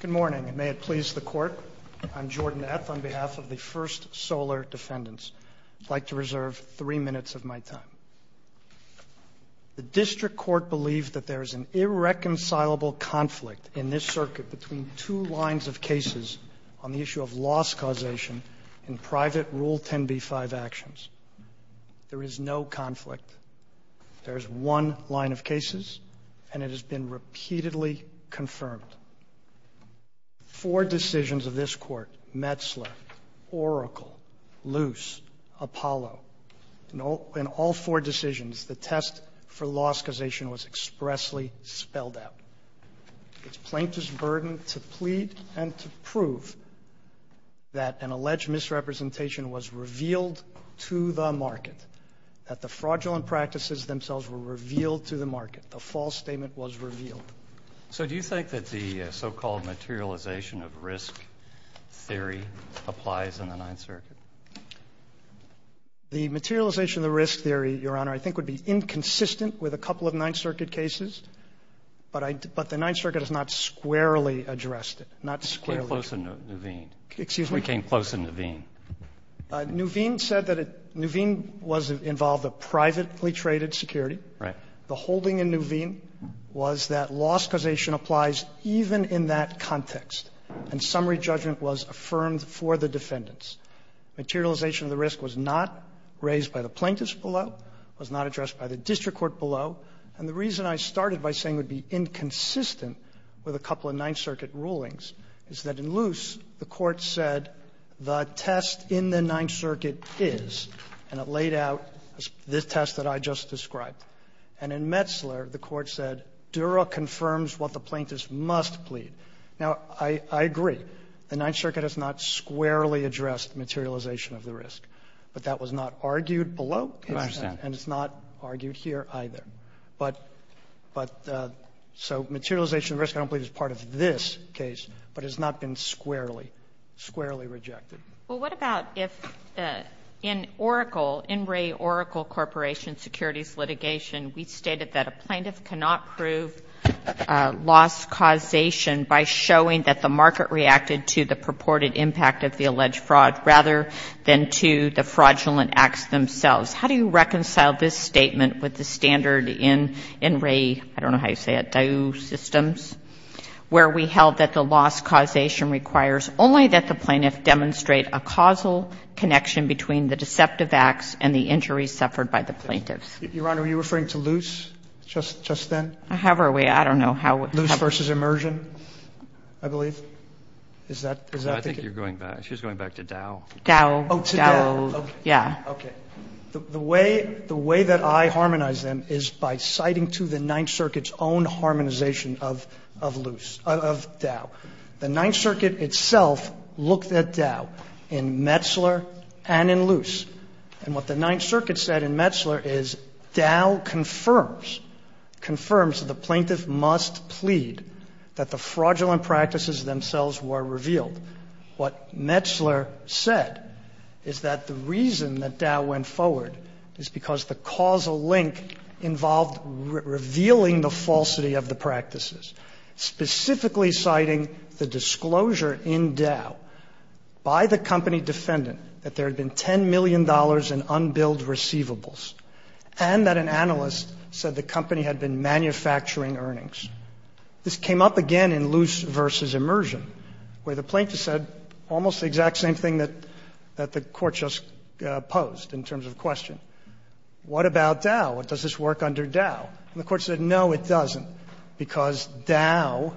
Good morning, and may it please the Court, I'm Jordan Eth on behalf of the First Solar Defendants. I'd like to reserve three minutes of my time. The District Court believes that there is an irreconcilable conflict in this circuit between two lines of cases on the issue of loss causation in private Rule 10b-5 actions. There is no conflict. There is one line of cases, and it has been repeatedly confirmed. Four decisions of this Court—Metzler, Oracle, Luce, Apollo—in all four decisions, the test for loss causation was expressly spelled out. It's plaintiff's burden to plead and to prove that an alleged misrepresentation was revealed to the market, that the fraudulent practices themselves were revealed to the market. The false statement was revealed. So do you think that the so-called materialization of risk theory applies in the Ninth Circuit? The materialization of the risk theory, Your Honor, I think would be inconsistent with a couple of Ninth Circuit cases. But the Ninth Circuit has not squarely addressed it, not squarely. It came close in Nuveen. Excuse me? It came close in Nuveen. Nuveen said that Nuveen involved a privately traded security. Right. The holding in Nuveen was that loss causation applies even in that context, and summary judgment was affirmed for the defendants. Materialization of the risk was not raised by the plaintiffs below, was not addressed by the district court below. And the reason I started by saying it would be inconsistent with a couple of Ninth Circuit rulings is that in Luce, the Court said the test in the Ninth Circuit is, and it laid out this test that I just described. And in Metzler, the Court said Dura confirms what the plaintiffs must plead. Now, I agree. The Ninth Circuit has not squarely addressed materialization of the risk. But that was not argued below. And it's not argued here either. But so materialization of risk I don't believe is part of this case, but it has not been squarely, squarely rejected. Well, what about if in Oracle, in Ray Oracle Corporation securities litigation, we stated that a plaintiff cannot prove loss causation by showing that the market reacted to the purported impact of the alleged fraud rather than to the fraudulent acts themselves. How do you reconcile this statement with the standard in Ray, I don't know how you say it, Daewoo Systems, where we held that the loss causation requires only that the plaintiff demonstrate a causal connection between the deceptive acts and the injuries suffered by the plaintiffs? Your Honor, are you referring to Luce just then? However we, I don't know how. Luce versus Immersion, I believe. Is that? I think you're going back. She's going back to Daewoo. Daewoo. Oh, to Daewoo. Yeah. Okay. The way that I harmonize them is by citing to the Ninth Circuit's own harmonization of Luce, of Daewoo. The Ninth Circuit itself looked at Daewoo in Metzler and in Luce. And what the Ninth Circuit said in Metzler is Daewoo confirms, confirms the plaintiff must plead that the fraudulent practices themselves were revealed. What Metzler said is that the reason that Daewoo went forward is because the causal link involved revealing the falsity of the practices, specifically citing the disclosure in Daewoo by the company defendant that there had been $10 million in unbilled receivables, and that an analyst said the company had been manufacturing earnings. This came up again in Luce versus Immersion, where the plaintiff said almost the exact same thing that the Court just posed in terms of question. What about Daewoo? Does this work under Daewoo? And the Court said no, it doesn't, because Daewoo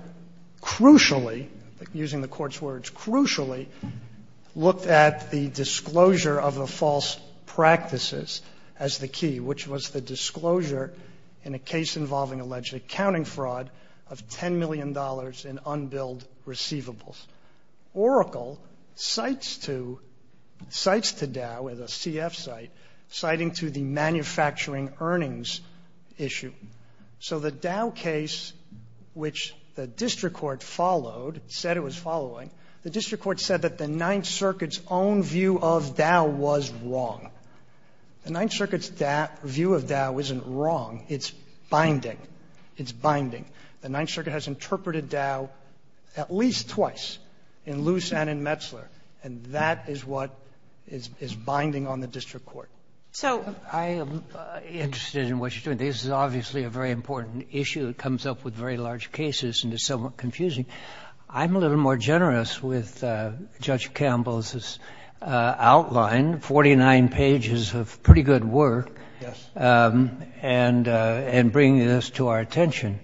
crucially, using the Court's words, crucially looked at the disclosure of the false practices as the key, which was the disclosure in a case involving alleged accounting fraud of $10 million in unbilled receivables. Oracle cites to, cites to Daewoo as a CF site, citing to the manufacturing earnings issue. So the Daewoo case, which the district court followed, said it was following, the district court said that the Ninth Circuit's own view of Daewoo was wrong. The Ninth Circuit's view of Daewoo isn't wrong. It's binding. It's binding. The Ninth Circuit has interpreted Daewoo at least twice, in Luce and in Metzler, and that is what is binding on the district court. I am interested in what you're doing. This is obviously a very important issue. It comes up with very large cases, and it's somewhat confusing. I'm a little more generous with Judge Campbell's outline, 49 pages of pretty good work, and bringing this to our attention.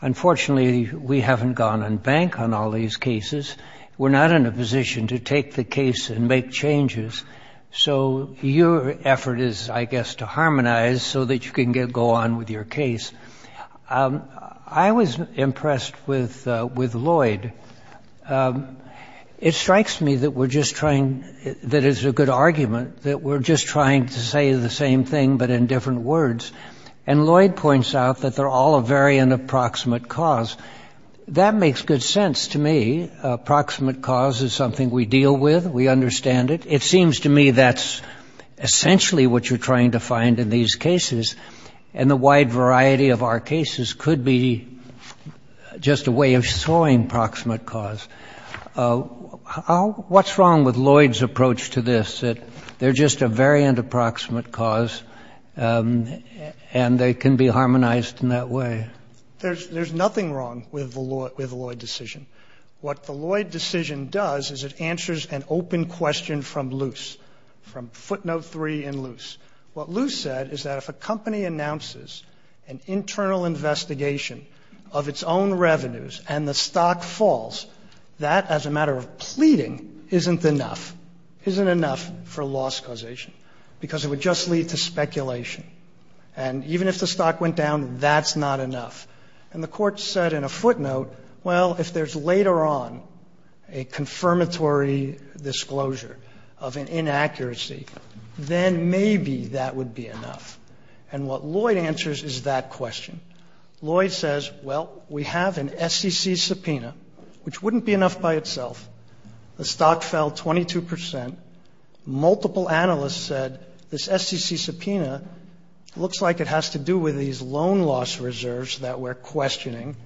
Unfortunately, we haven't gone on bank on all these cases. We're not in a position to take the case and make changes. So your effort is, I guess, to harmonize so that you can go on with your case. I was impressed with Lloyd. It strikes me that we're just trying, that it's a good argument, that we're just trying to say the same thing but in different words. And Lloyd points out that they're all a variant of proximate cause. That makes good sense to me. Proximate cause is something we deal with. We understand it. It seems to me that's essentially what you're trying to find in these cases, and the wide variety of our cases could be just a way of showing proximate cause. What's wrong with Lloyd's approach to this, that they're just a variant of proximate cause and they can be harmonized in that way? There's nothing wrong with the Lloyd decision. What the Lloyd decision does is it answers an open question from Luce, from footnote three in Luce. What Luce said is that if a company announces an internal investigation of its own revenues and the stock falls, that as a matter of pleading isn't enough, isn't enough for loss causation because it would just lead to speculation. And even if the stock went down, that's not enough. And the court said in a footnote, well, if there's later on a confirmatory disclosure of an inaccuracy, then maybe that would be enough. And what Lloyd answers is that question. Lloyd says, well, we have an SEC subpoena, which wouldn't be enough by itself. The stock fell 22 percent. Multiple analysts said this SEC subpoena looks like it has to do with these loan loss reserves that we're questioning.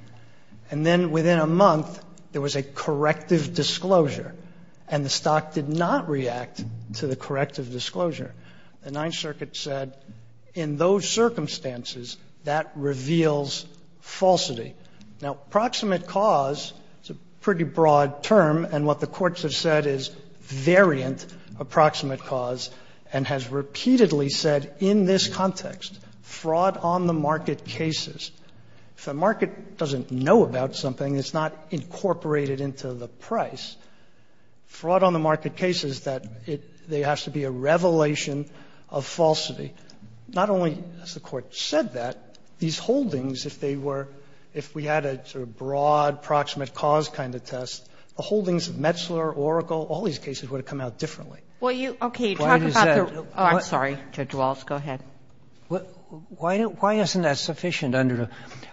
And then within a month, there was a corrective disclosure. And the stock did not react to the corrective disclosure. The Ninth Circuit said in those circumstances, that reveals falsity. Now, proximate cause is a pretty broad term. And what the courts have said is variant approximate cause and has repeatedly said in this context, fraud on the market cases. If a market doesn't know about something, it's not incorporated into the price. Fraud on the market cases, that there has to be a revelation of falsity. Not only has the Court said that, these holdings, if they were, if we had a sort of broad proximate cause kind of test, the holdings of Metzler, Oracle, all these cases would have come out differently. Well, you, okay, talk about the, oh, I'm sorry, Judge Walz, go ahead. Why isn't that sufficient under the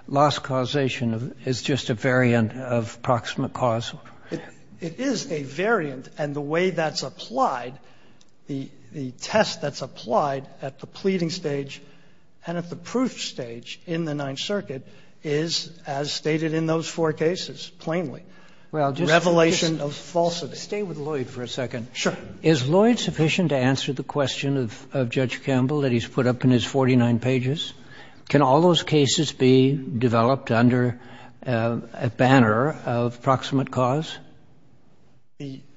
loss causation is just a variant of proximate cause? It is a variant. And the way that's applied, the test that's applied at the pleading stage and at the proof stage in the Ninth Circuit is as stated in those four cases plainly, revelation of falsity. Stay with Lloyd for a second. Sure. Is Lloyd sufficient to answer the question of Judge Campbell that he's put up in his 49 pages? Can all those cases be developed under a banner of proximate cause?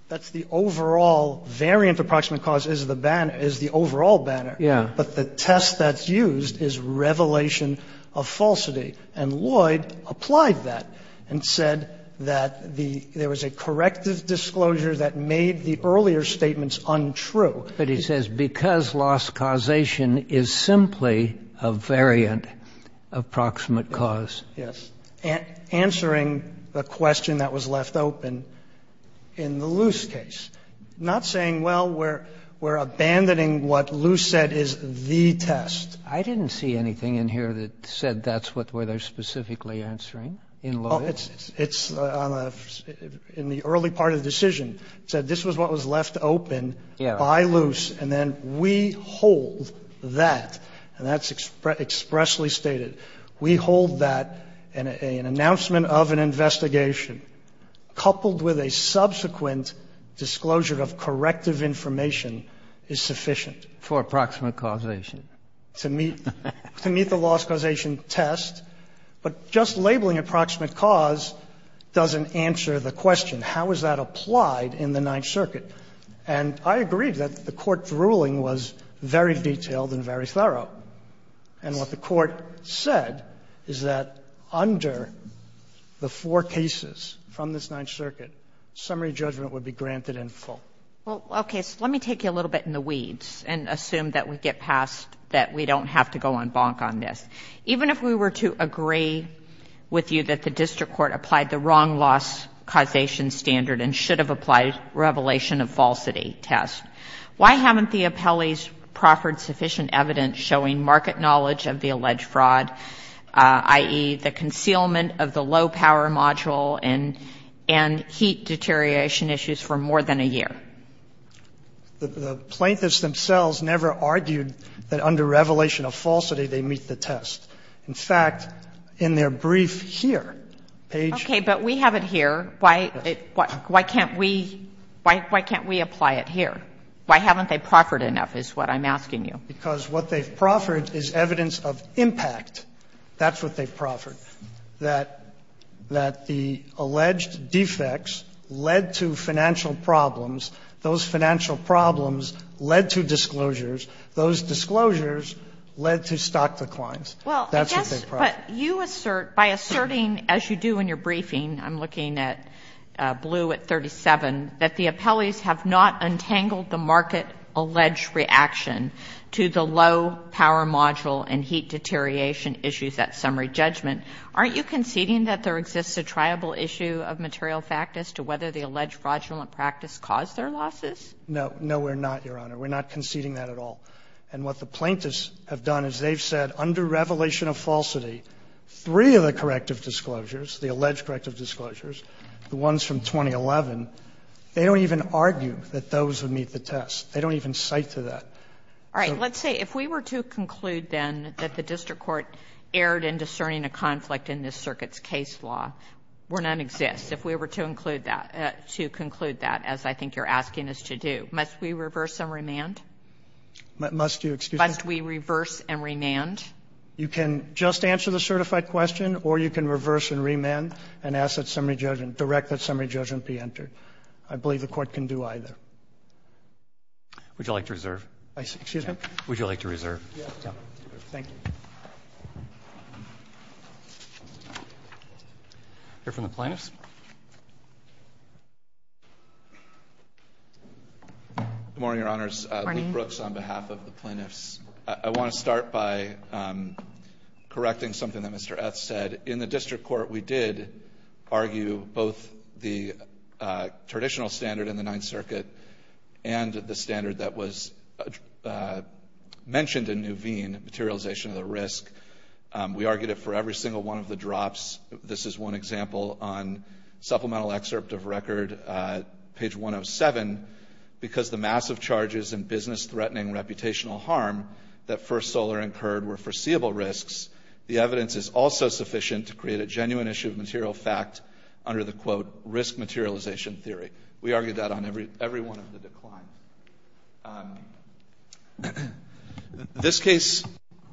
That's the overall variant of proximate cause is the banner, is the overall banner. Yeah. But the test that's used is revelation of falsity. And Lloyd applied that and said that the, there was a corrective disclosure that made the earlier statements untrue. But he says because loss causation is simply a variant of proximate cause. Yes. Answering the question that was left open in the Luce case, not saying, well, we're abandoning what Luce said is the test. I didn't see anything in here that said that's what they're specifically answering in Lloyd. It's in the early part of the decision. It said this was what was left open by Luce. And then we hold that, and that's expressly stated, we hold that an announcement of an investigation coupled with a subsequent disclosure of corrective information is sufficient. For approximate causation. To meet the loss causation test. But just labeling approximate cause doesn't answer the question. How is that applied in the Ninth Circuit? And I agree that the Court's ruling was very detailed and very thorough. And what the Court said is that under the four cases from this Ninth Circuit, summary judgment would be granted in full. Well, okay. So let me take you a little bit in the weeds and assume that we get past that we don't have to go on bonk on this. Even if we were to agree with you that the district court applied the wrong loss causation standard and should have applied revelation of falsity test, why haven't the appellees proffered sufficient evidence showing market knowledge of the alleged fraud, i.e., the concealment of the low power module and heat deterioration issues for more than a year? The plaintiffs themselves never argued that under revelation of falsity they meet the test. In fact, in their brief here, page ---- Okay. But we have it here. Why can't we apply it here? Why haven't they proffered enough is what I'm asking you. Because what they've proffered is evidence of impact. That's what they've proffered, that the alleged defects led to financial problems. Those financial problems led to disclosures. Those disclosures led to stock declines. That's what they've proffered. Well, I guess what you assert, by asserting, as you do in your briefing, I'm looking at blue at 37, that the appellees have not untangled the market alleged reaction to the low power module and heat deterioration issues at summary judgment, aren't you conceding that there exists a triable issue of material fact as to whether the alleged fraudulent practice caused their losses? No. No, we're not, Your Honor. We're not conceding that at all. And what the plaintiffs have done is they've said under revelation of falsity, three of the corrective disclosures, the alleged corrective disclosures, the ones from 2011, they don't even argue that those would meet the test. They don't even cite to that. All right. Let's say if we were to conclude then that the district court erred in discerning a conflict in this circuit's case law, where none exists, if we were to include that, to conclude that, as I think you're asking us to do, must we reverse and remand? Must you, excuse me? Must we reverse and remand? You can just answer the certified question or you can reverse and remand and ask that summary judgment, direct that summary judgment be entered. I believe the Court can do either. Would you like to reserve? Excuse me? Would you like to reserve? Yes. Thank you. Hear from the plaintiffs? Good morning, Your Honors. Good morning. I'm Luke Brooks on behalf of the plaintiffs. I want to start by correcting something that Mr. Eth said. In the district court, we did argue both the traditional standard in the Ninth Circuit and the standard that was mentioned in Nuveen, materialization of the risk. We argued it for every single one of the drops. This is one example on supplemental excerpt of record, page 107, because the massive charges and business-threatening reputational harm that First Solar incurred were foreseeable risks. The evidence is also sufficient to create a genuine issue of material fact under the, quote, risk materialization theory. We argued that on every one of the declines. This case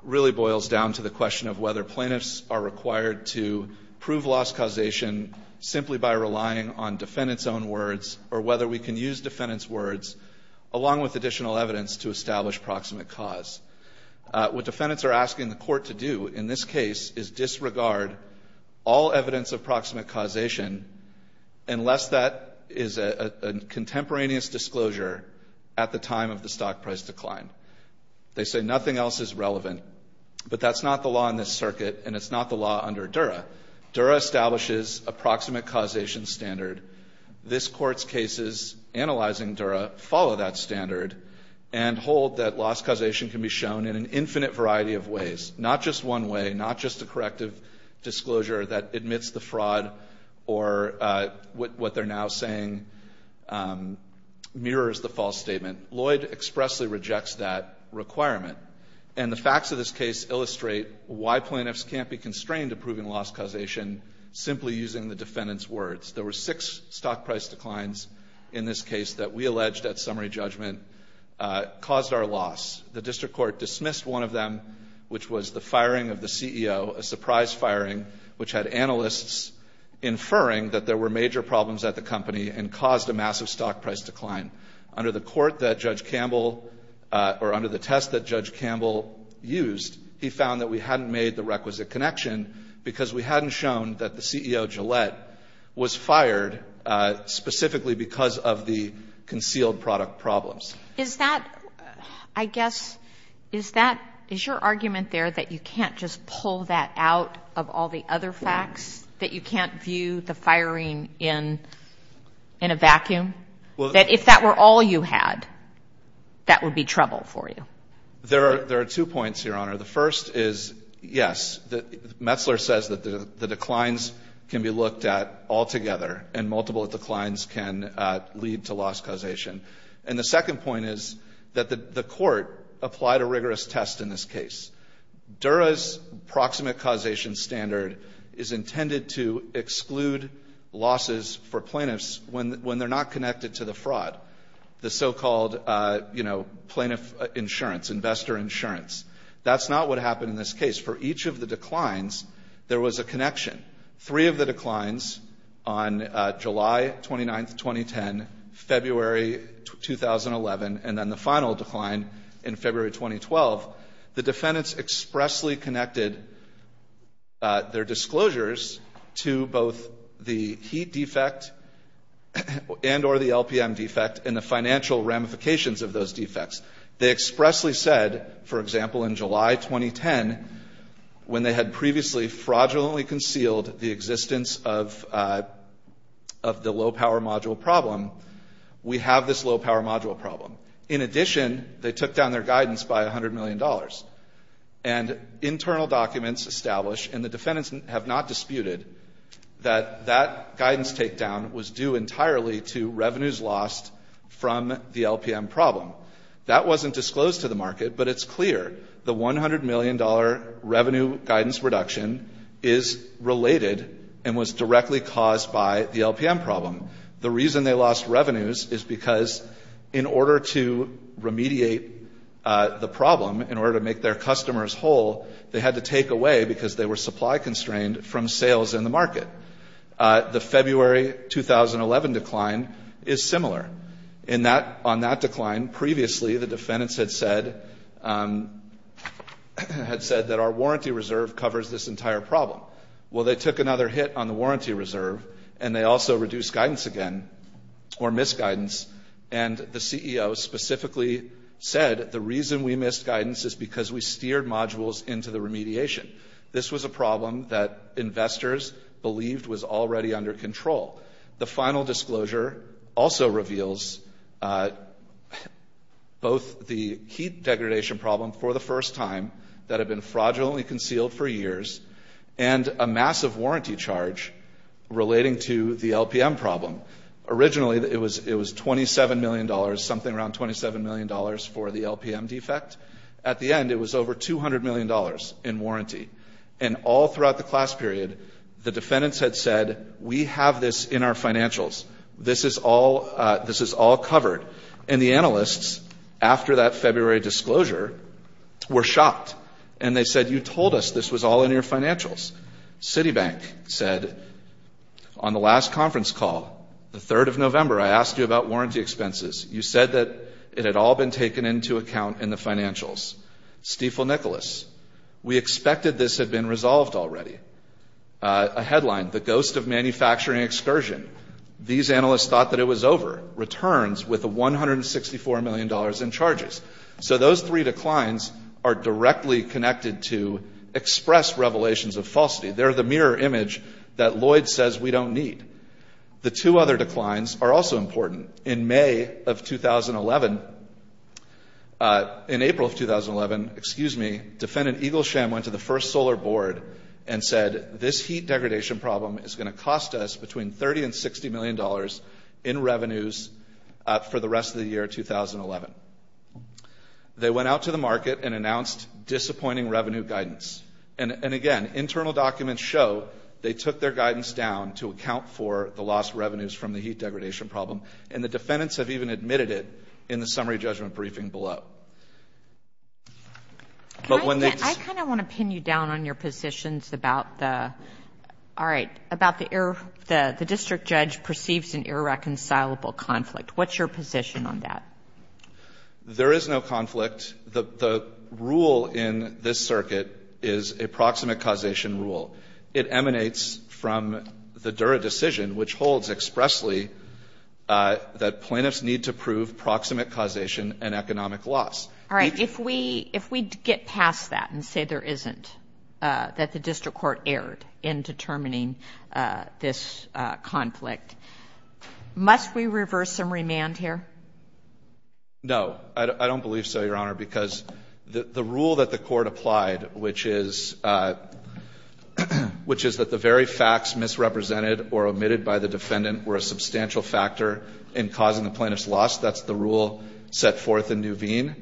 really boils down to the question of whether plaintiffs are required to prove loss causation simply by relying on defendants' own words or whether we can use defendants' words along with additional evidence to establish proximate cause. What defendants are asking the court to do in this case is disregard all evidence of proximate causation unless that is a contemporaneous disclosure at the time of the stock price decline. They say nothing else is relevant, but that's not the law in this circuit, and it's not the law under Dura. Dura establishes a proximate causation standard. This Court's cases analyzing Dura follow that standard and hold that loss causation can be shown in an infinite variety of ways, not just one way, not just a corrective disclosure that admits the fraud or what they're now saying mirrors the false statement. Lloyd expressly rejects that requirement. And the facts of this case illustrate why plaintiffs can't be constrained to proving loss causation simply using the defendants' words. There were six stock price declines in this case that we alleged at summary judgment caused our loss. The district court dismissed one of them, which was the firing of the CEO, a surprise firing, which had analysts inferring that there were major problems at the company and caused a massive stock price decline. Under the test that Judge Campbell used, he found that we hadn't made the requisite connection because we hadn't shown that the CEO, Gillette, was fired specifically because of the concealed product problems. Is that, I guess, is that, is your argument there that you can't just pull that out of all the other facts, that you can't view the firing in a vacuum, that if that were all you had, that would be trouble for you? There are two points, Your Honor. The first is, yes, Metzler says that the declines can be looked at altogether and multiple declines can lead to loss causation. And the second point is that the court applied a rigorous test in this case. Dura's proximate causation standard is intended to exclude losses for plaintiffs when they're not connected to the fraud, the so-called, you know, plaintiff insurance, investor insurance. That's not what happened in this case. For each of the declines, there was a connection. Three of the declines on July 29th, 2010, February 2011, and then the final decline in February 2012, the defendants expressly connected their disclosures to both the heat defect and or the LPM defect and the financial ramifications of those defects. They expressly said, for example, in July 2010, when they had previously fraudulently concealed the existence of the low-power module problem, we have this low-power module problem. In addition, they took down their guidance by $100 million. And internal documents establish, and the defendants have not disputed, that that guidance takedown was due entirely to revenues lost from the LPM problem. That wasn't disclosed to the market, but it's clear. The $100 million revenue guidance reduction is related and was directly caused by the LPM problem. The reason they lost revenues is because in order to remediate the problem, in order to make their customers whole, they had to take away because they were supply constrained from sales in the market. The February 2011 decline is similar. On that decline, previously the defendants had said that our warranty reserve covers this entire problem. Well, they took another hit on the warranty reserve, and they also reduced guidance again or missed guidance. And the CEO specifically said the reason we missed guidance is because we steered modules into the remediation. This was a problem that investors believed was already under control. The final disclosure also reveals both the heat degradation problem for the first time that had been fraudulently concealed for years and a massive warranty charge relating to the LPM problem. Originally, it was $27 million, something around $27 million for the LPM defect. At the end, it was over $200 million in warranty. And all throughout the class period, the defendants had said, we have this in our financials. This is all covered. And the analysts, after that February disclosure, were shocked. And they said, you told us this was all in your financials. Citibank said, on the last conference call, the 3rd of November, I asked you about warranty expenses. You said that it had all been taken into account in the financials. Stiefel-Nicholas, we expected this had been resolved already. A headline, the ghost of manufacturing excursion. These analysts thought that it was over. Returns with $164 million in charges. So those three declines are directly connected to express revelations of falsity. They're the mirror image that Lloyd says we don't need. The two other declines are also important. In May of 2011, in April of 2011, defendant Eagle Sham went to the first solar board and said, this heat degradation problem is going to cost us between $30 and $60 million in revenues for the rest of the year 2011. They went out to the market and announced disappointing revenue guidance. And, again, internal documents show they took their guidance down to account for the lost revenues from the heat degradation problem. And the defendants have even admitted it in the summary judgment briefing below. But when they. I kind of want to pin you down on your positions about the. All right. About the error. The district judge perceives an irreconcilable conflict. What's your position on that? There is no conflict. The rule in this circuit is a proximate causation rule. It emanates from the Dura decision, which holds expressly that plaintiffs need to prove proximate causation and economic loss. All right. If we get past that and say there isn't, that the district court erred in determining this conflict, must we reverse some remand here? No. I don't believe so, Your Honor, because the rule that the court applied, which is that the very facts misrepresented or omitted by the defendant were a substantial factor in causing the plaintiff's loss, that's the rule set forth in Nuveen.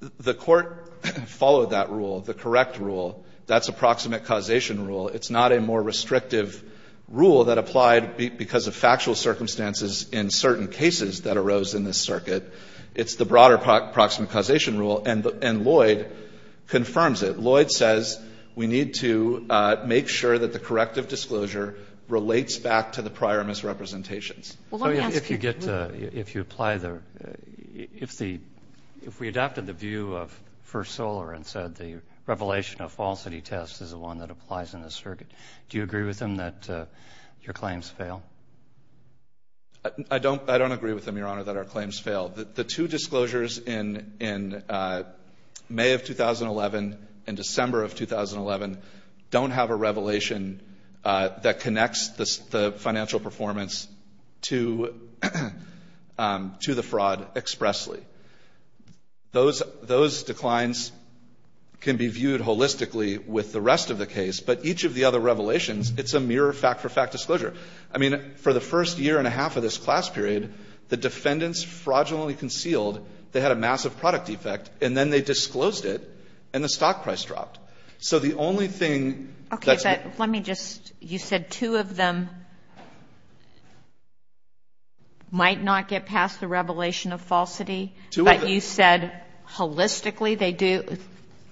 The court followed that rule, the correct rule. That's a proximate causation rule. It's not a more restrictive rule that applied because of factual circumstances in certain cases that arose in this circuit. It's the broader proximate causation rule. And Lloyd confirms it. Lloyd says we need to make sure that the corrective disclosure relates back to the prior misrepresentations. If you apply the ‑‑ if we adopted the view of First Solar and said the revelation of falsity test is the one that applies in this circuit, do you agree with him that your claims fail? I don't agree with him, Your Honor, that our claims fail. The two disclosures in May of 2011 and December of 2011 don't have a revelation that connects the financial performance to the fraud expressly. Those declines can be viewed holistically with the rest of the case, but each of the other revelations, it's a mere fact‑for‑fact disclosure. I mean, for the first year and a half of this class period, the defendants fraudulently concealed they had a massive product defect, and then they disclosed it, and the stock price dropped. So the only thing ‑‑ Okay, but let me just ‑‑ you said two of them might not get past the revelation of falsity. Two of them. But you said holistically they do.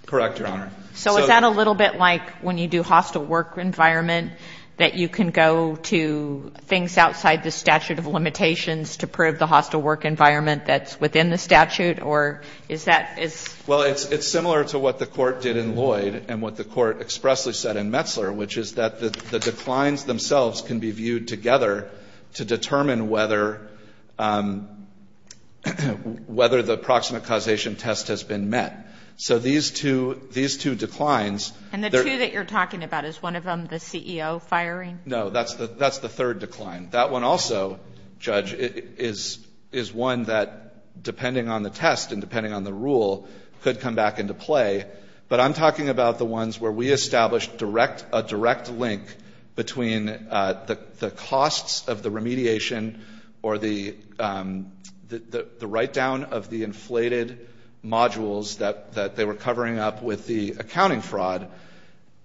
Correct, Your Honor. So is that a little bit like when you do hostile work environment that you can go to things outside the statute of limitations to prove the hostile work environment that's within the statute, or is that ‑‑ Well, it's similar to what the court did in Lloyd and what the court expressly said in Metzler, which is that the declines themselves can be viewed together to determine whether the proximate causation test has been met. So these two declines ‑‑ And the two that you're talking about, is one of them the CEO firing? No, that's the third decline. That one also, Judge, is one that, depending on the test and depending on the rule, could come back into play. But I'm talking about the ones where we established a direct link between the costs of the remediation or the write‑down of the inflated modules that they were covering up with the accounting fraud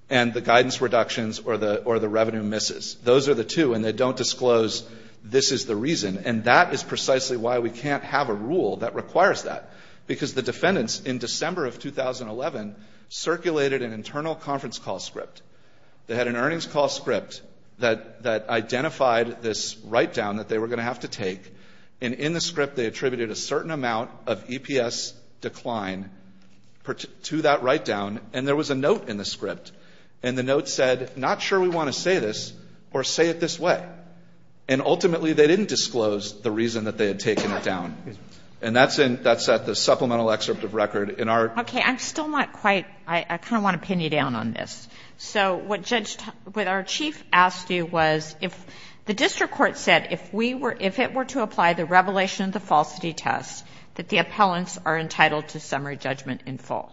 and the guidance reductions or the revenue misses. Those are the two, and they don't disclose this is the reason. And that is precisely why we can't have a rule that requires that, because the defendants in December of 2011 circulated an internal conference call script. They had an earnings call script that identified this write‑down that they were going to have to take, and in the script they attributed a certain amount of EPS decline to that write‑down, and there was a note in the script. And the note said, not sure we want to say this or say it this way. And ultimately they didn't disclose the reason that they had taken it down. And that's at the supplemental excerpt of record. Okay. I'm still not quite ‑‑ I kind of want to pin you down on this. So what our chief asked you was if the district court said if it were to apply the revelation of the falsity test that the appellants are entitled to summary judgment in full.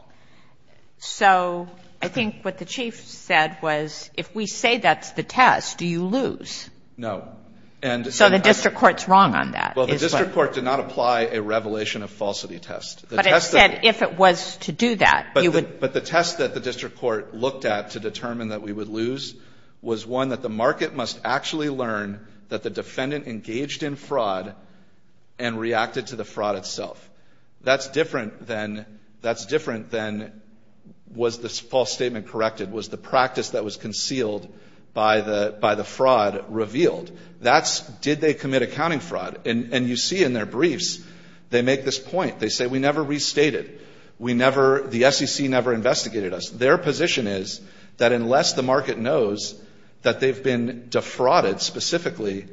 So I think what the chief said was if we say that's the test, do you lose? No. So the district court's wrong on that. Well, the district court did not apply a revelation of falsity test. But it said if it was to do that, you would ‑‑ But the test that the district court looked at to determine that we would lose was one that the market must actually learn that the defendant engaged in fraud and reacted to the fraud itself. That's different than was the false statement corrected, was the practice that was concealed by the fraud revealed. That's did they commit accounting fraud. And you see in their briefs they make this point. They say we never restated. We never ‑‑ the SEC never investigated us. Their position is that unless the market knows that they've been defrauded specifically,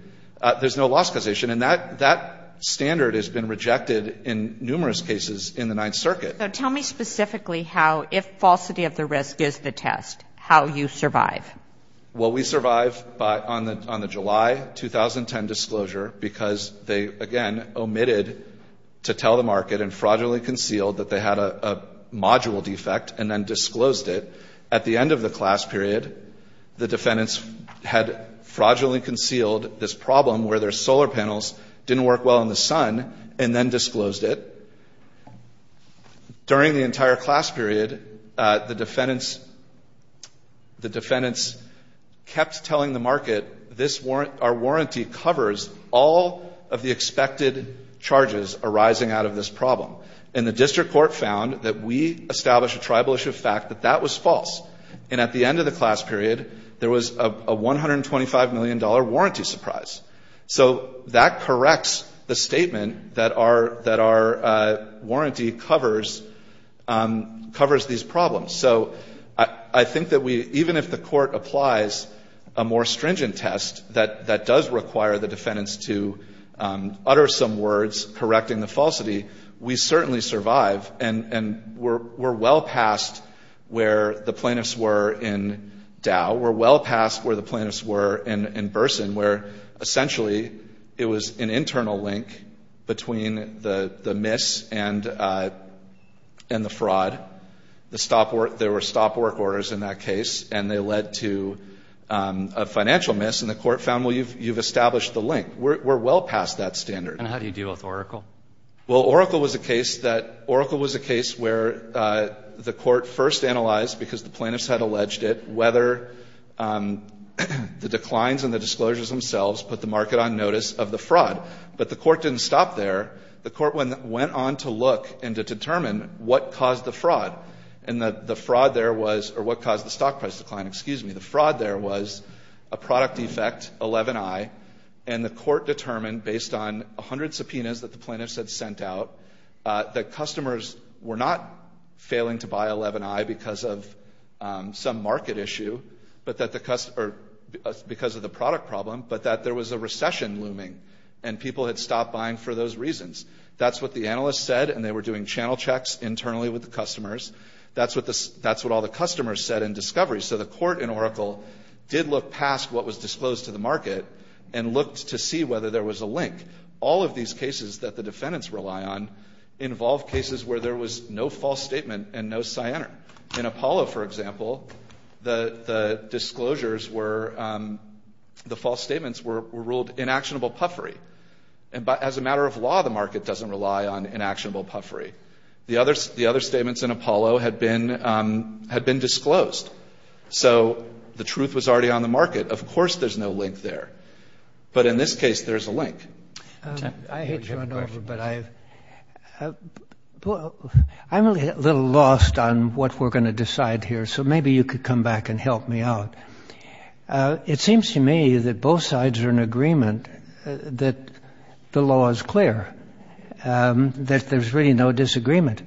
there's no loss causation. And that standard has been rejected in numerous cases in the Ninth Circuit. So tell me specifically how, if falsity of the risk is the test, how you survive. Well, we survive on the July 2010 disclosure because they, again, omitted to tell the market and fraudulently concealed that they had a module defect and then disclosed it. At the end of the class period, the defendants had fraudulently concealed this problem where their solar panels didn't work well in the sun and then disclosed it. During the entire class period, the defendants kept telling the market, our warranty covers all of the expected charges arising out of this problem. And the district court found that we established a tribal issue of fact that that was false. And at the end of the class period, there was a $125 million warranty surprise. So that corrects the statement that our warranty covers these problems. So I think that we, even if the court applies a more stringent test that does require the defendants to utter some words correcting the falsity, we certainly survive. And we're well past where the plaintiffs were in Dow. We're well past where the plaintiffs were in Burson, where essentially it was an internal link between the miss and the fraud. There were stop work orders in that case, and they led to a financial miss, and the court found, well, you've established the link. We're well past that standard. And how do you deal with Oracle? Well, Oracle was a case where the court first analyzed, because the plaintiffs had alleged it, whether the declines and the disclosures themselves put the market on notice of the fraud. But the court didn't stop there. The court went on to look and to determine what caused the fraud. And the fraud there was or what caused the stock price decline, excuse me. The fraud there was a product defect, 11i, and the court determined based on 100 subpoenas that the plaintiffs had sent out, that customers were not failing to buy 11i because of some market issue, because of the product problem, but that there was a recession looming and people had stopped buying for those reasons. That's what the analysts said, and they were doing channel checks internally with the customers. That's what all the customers said in discovery. So the court in Oracle did look past what was disclosed to the market and looked to see whether there was a link. All of these cases that the defendants rely on involve cases where there was no false statement and no cyanide. In Apollo, for example, the disclosures were, the false statements were ruled inactionable puffery. As a matter of law, the market doesn't rely on inactionable puffery. The other statements in Apollo had been disclosed. So the truth was already on the market. Of course there's no link there. But in this case, there's a link. I hate to run over, but I'm a little lost on what we're going to decide here, so maybe you could come back and help me out. It seems to me that both sides are in agreement that the law is clear, that there's really no disagreement.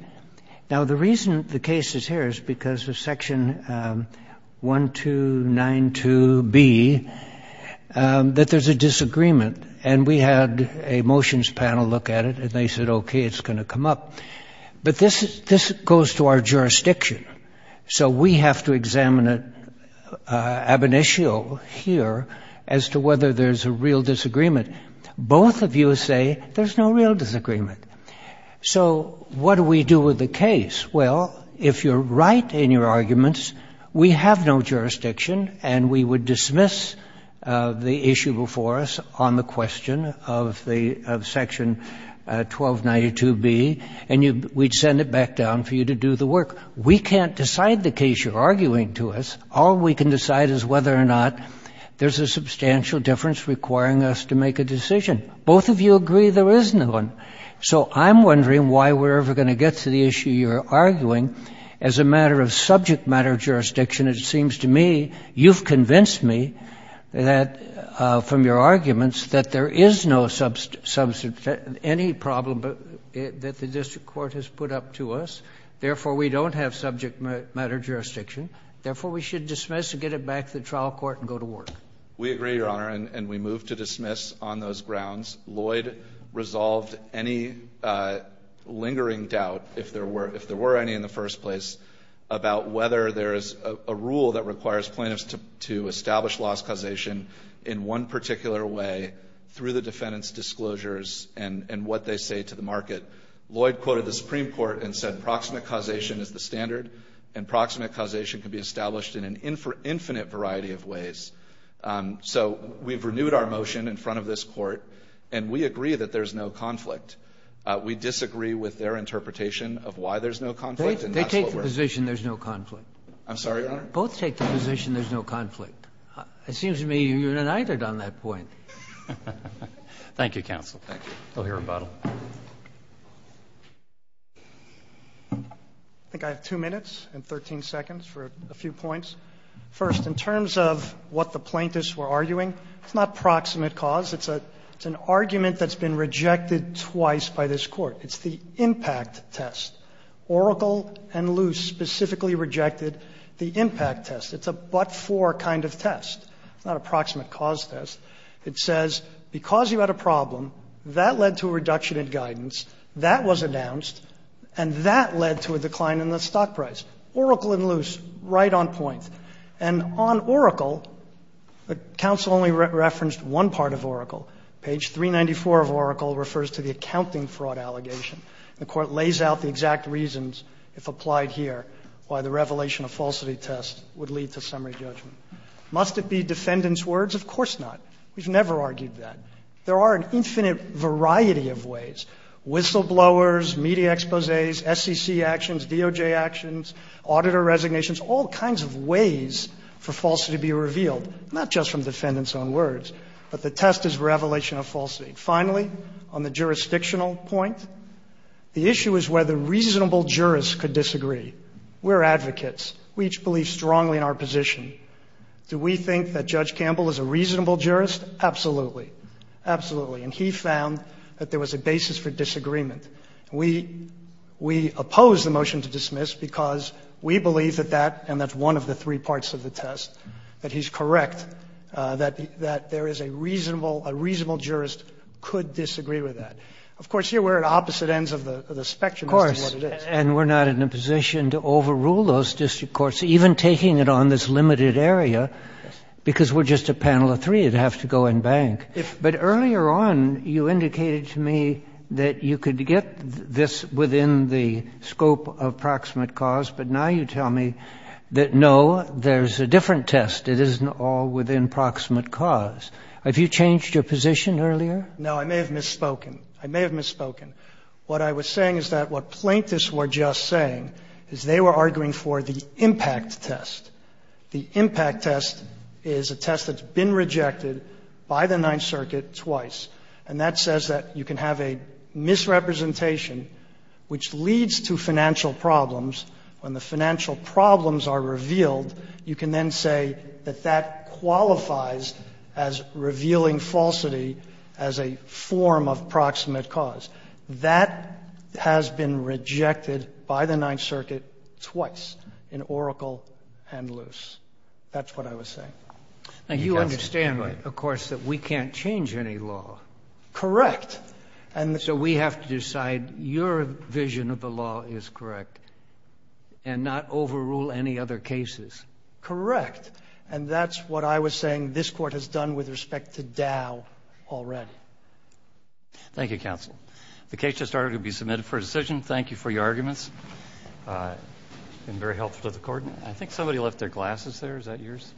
Now, the reason the case is here is because of Section 1292B, that there's a disagreement, and we had a motions panel look at it, and they said, okay, it's going to come up. But this goes to our jurisdiction, so we have to examine it ab initio here as to whether there's a real disagreement. Both of you say there's no real disagreement. So what do we do with the case? Well, if you're right in your arguments, we have no jurisdiction, and we would dismiss the issue before us on the question of Section 1292B, and we'd send it back down for you to do the work. We can't decide the case you're arguing to us. All we can decide is whether or not there's a substantial difference requiring us to make a decision. Both of you agree there is no one. So I'm wondering why we're ever going to get to the issue you're arguing. As a matter of subject matter jurisdiction, it seems to me you've convinced me that from your arguments that there is no any problem that the district court has put up to us. Therefore, we don't have subject matter jurisdiction. Therefore, we should dismiss and get it back to the trial court and go to work. We agree, Your Honor, and we move to dismiss on those grounds. Lloyd resolved any lingering doubt, if there were any in the first place, about whether there is a rule that requires plaintiffs to establish loss causation in one particular way through the defendant's disclosures and what they say to the market. Lloyd quoted the Supreme Court and said proximate causation is the standard, and proximate causation can be established in an infinite variety of ways. So we've renewed our motion in front of this Court, and we agree that there's no conflict. We disagree with their interpretation of why there's no conflict. They take the position there's no conflict. I'm sorry, Your Honor? Both take the position there's no conflict. It seems to me you're united on that point. Thank you, counsel. Thank you. We'll hear about it. I think I have 2 minutes and 13 seconds for a few points. First, in terms of what the plaintiffs were arguing, it's not proximate cause. It's an argument that's been rejected twice by this Court. It's the impact test. Oracle and Loos specifically rejected the impact test. It's a but-for kind of test. It's not a proximate cause test. It says because you had a problem, that led to a reduction in guidance, that was announced, and that led to a decline in the stock price. Oracle and Loos, right on point. And on Oracle, the counsel only referenced one part of Oracle. Page 394 of Oracle refers to the accounting fraud allegation. The Court lays out the exact reasons, if applied here, why the revelation of falsity test would lead to summary judgment. Must it be defendant's words? Of course not. We've never argued that. There are an infinite variety of ways, whistleblowers, media exposés, SEC actions, DOJ actions, auditor resignations, all kinds of ways for falsity to be revealed, not just from defendant's own words. But the test is revelation of falsity. Finally, on the jurisdictional point, the issue is whether reasonable jurists could disagree. We're advocates. We each believe strongly in our position. Do we think that Judge Campbell is a reasonable jurist? Absolutely. Absolutely. And he found that there was a basis for disagreement. We oppose the motion to dismiss because we believe that that, and that's one of the three parts of the test, that he's correct, that there is a reasonable, a reasonable jurist could disagree with that. Of course, here we're at opposite ends of the spectrum as to what it is. Of course. And we're not in a position to overrule those district courts, even taking it on this limited area, because we're just a panel of three. It'd have to go in bank. But earlier on you indicated to me that you could get this within the scope of proximate cause, but now you tell me that, no, there's a different test. It isn't all within proximate cause. Have you changed your position earlier? No. I may have misspoken. I may have misspoken. What I was saying is that what plaintiffs were just saying is they were arguing for the impact test. The impact test is a test that's been rejected by the Ninth Circuit twice. And that says that you can have a misrepresentation which leads to financial problems. When the financial problems are revealed, you can then say that that qualifies as revealing falsity as a form of proximate cause. That has been rejected by the Ninth Circuit twice, in Oracle and Luce. That's what I was saying. And you understand, of course, that we can't change any law. Correct. And so we have to decide your vision of the law is correct and not overrule any other cases. Correct. And that's what I was saying this Court has done with respect to Dow already. Thank you, Counsel. The case just started to be submitted for decision. Thank you for your arguments. It's been very helpful to the Court. I think somebody left their glasses there. Is that yours?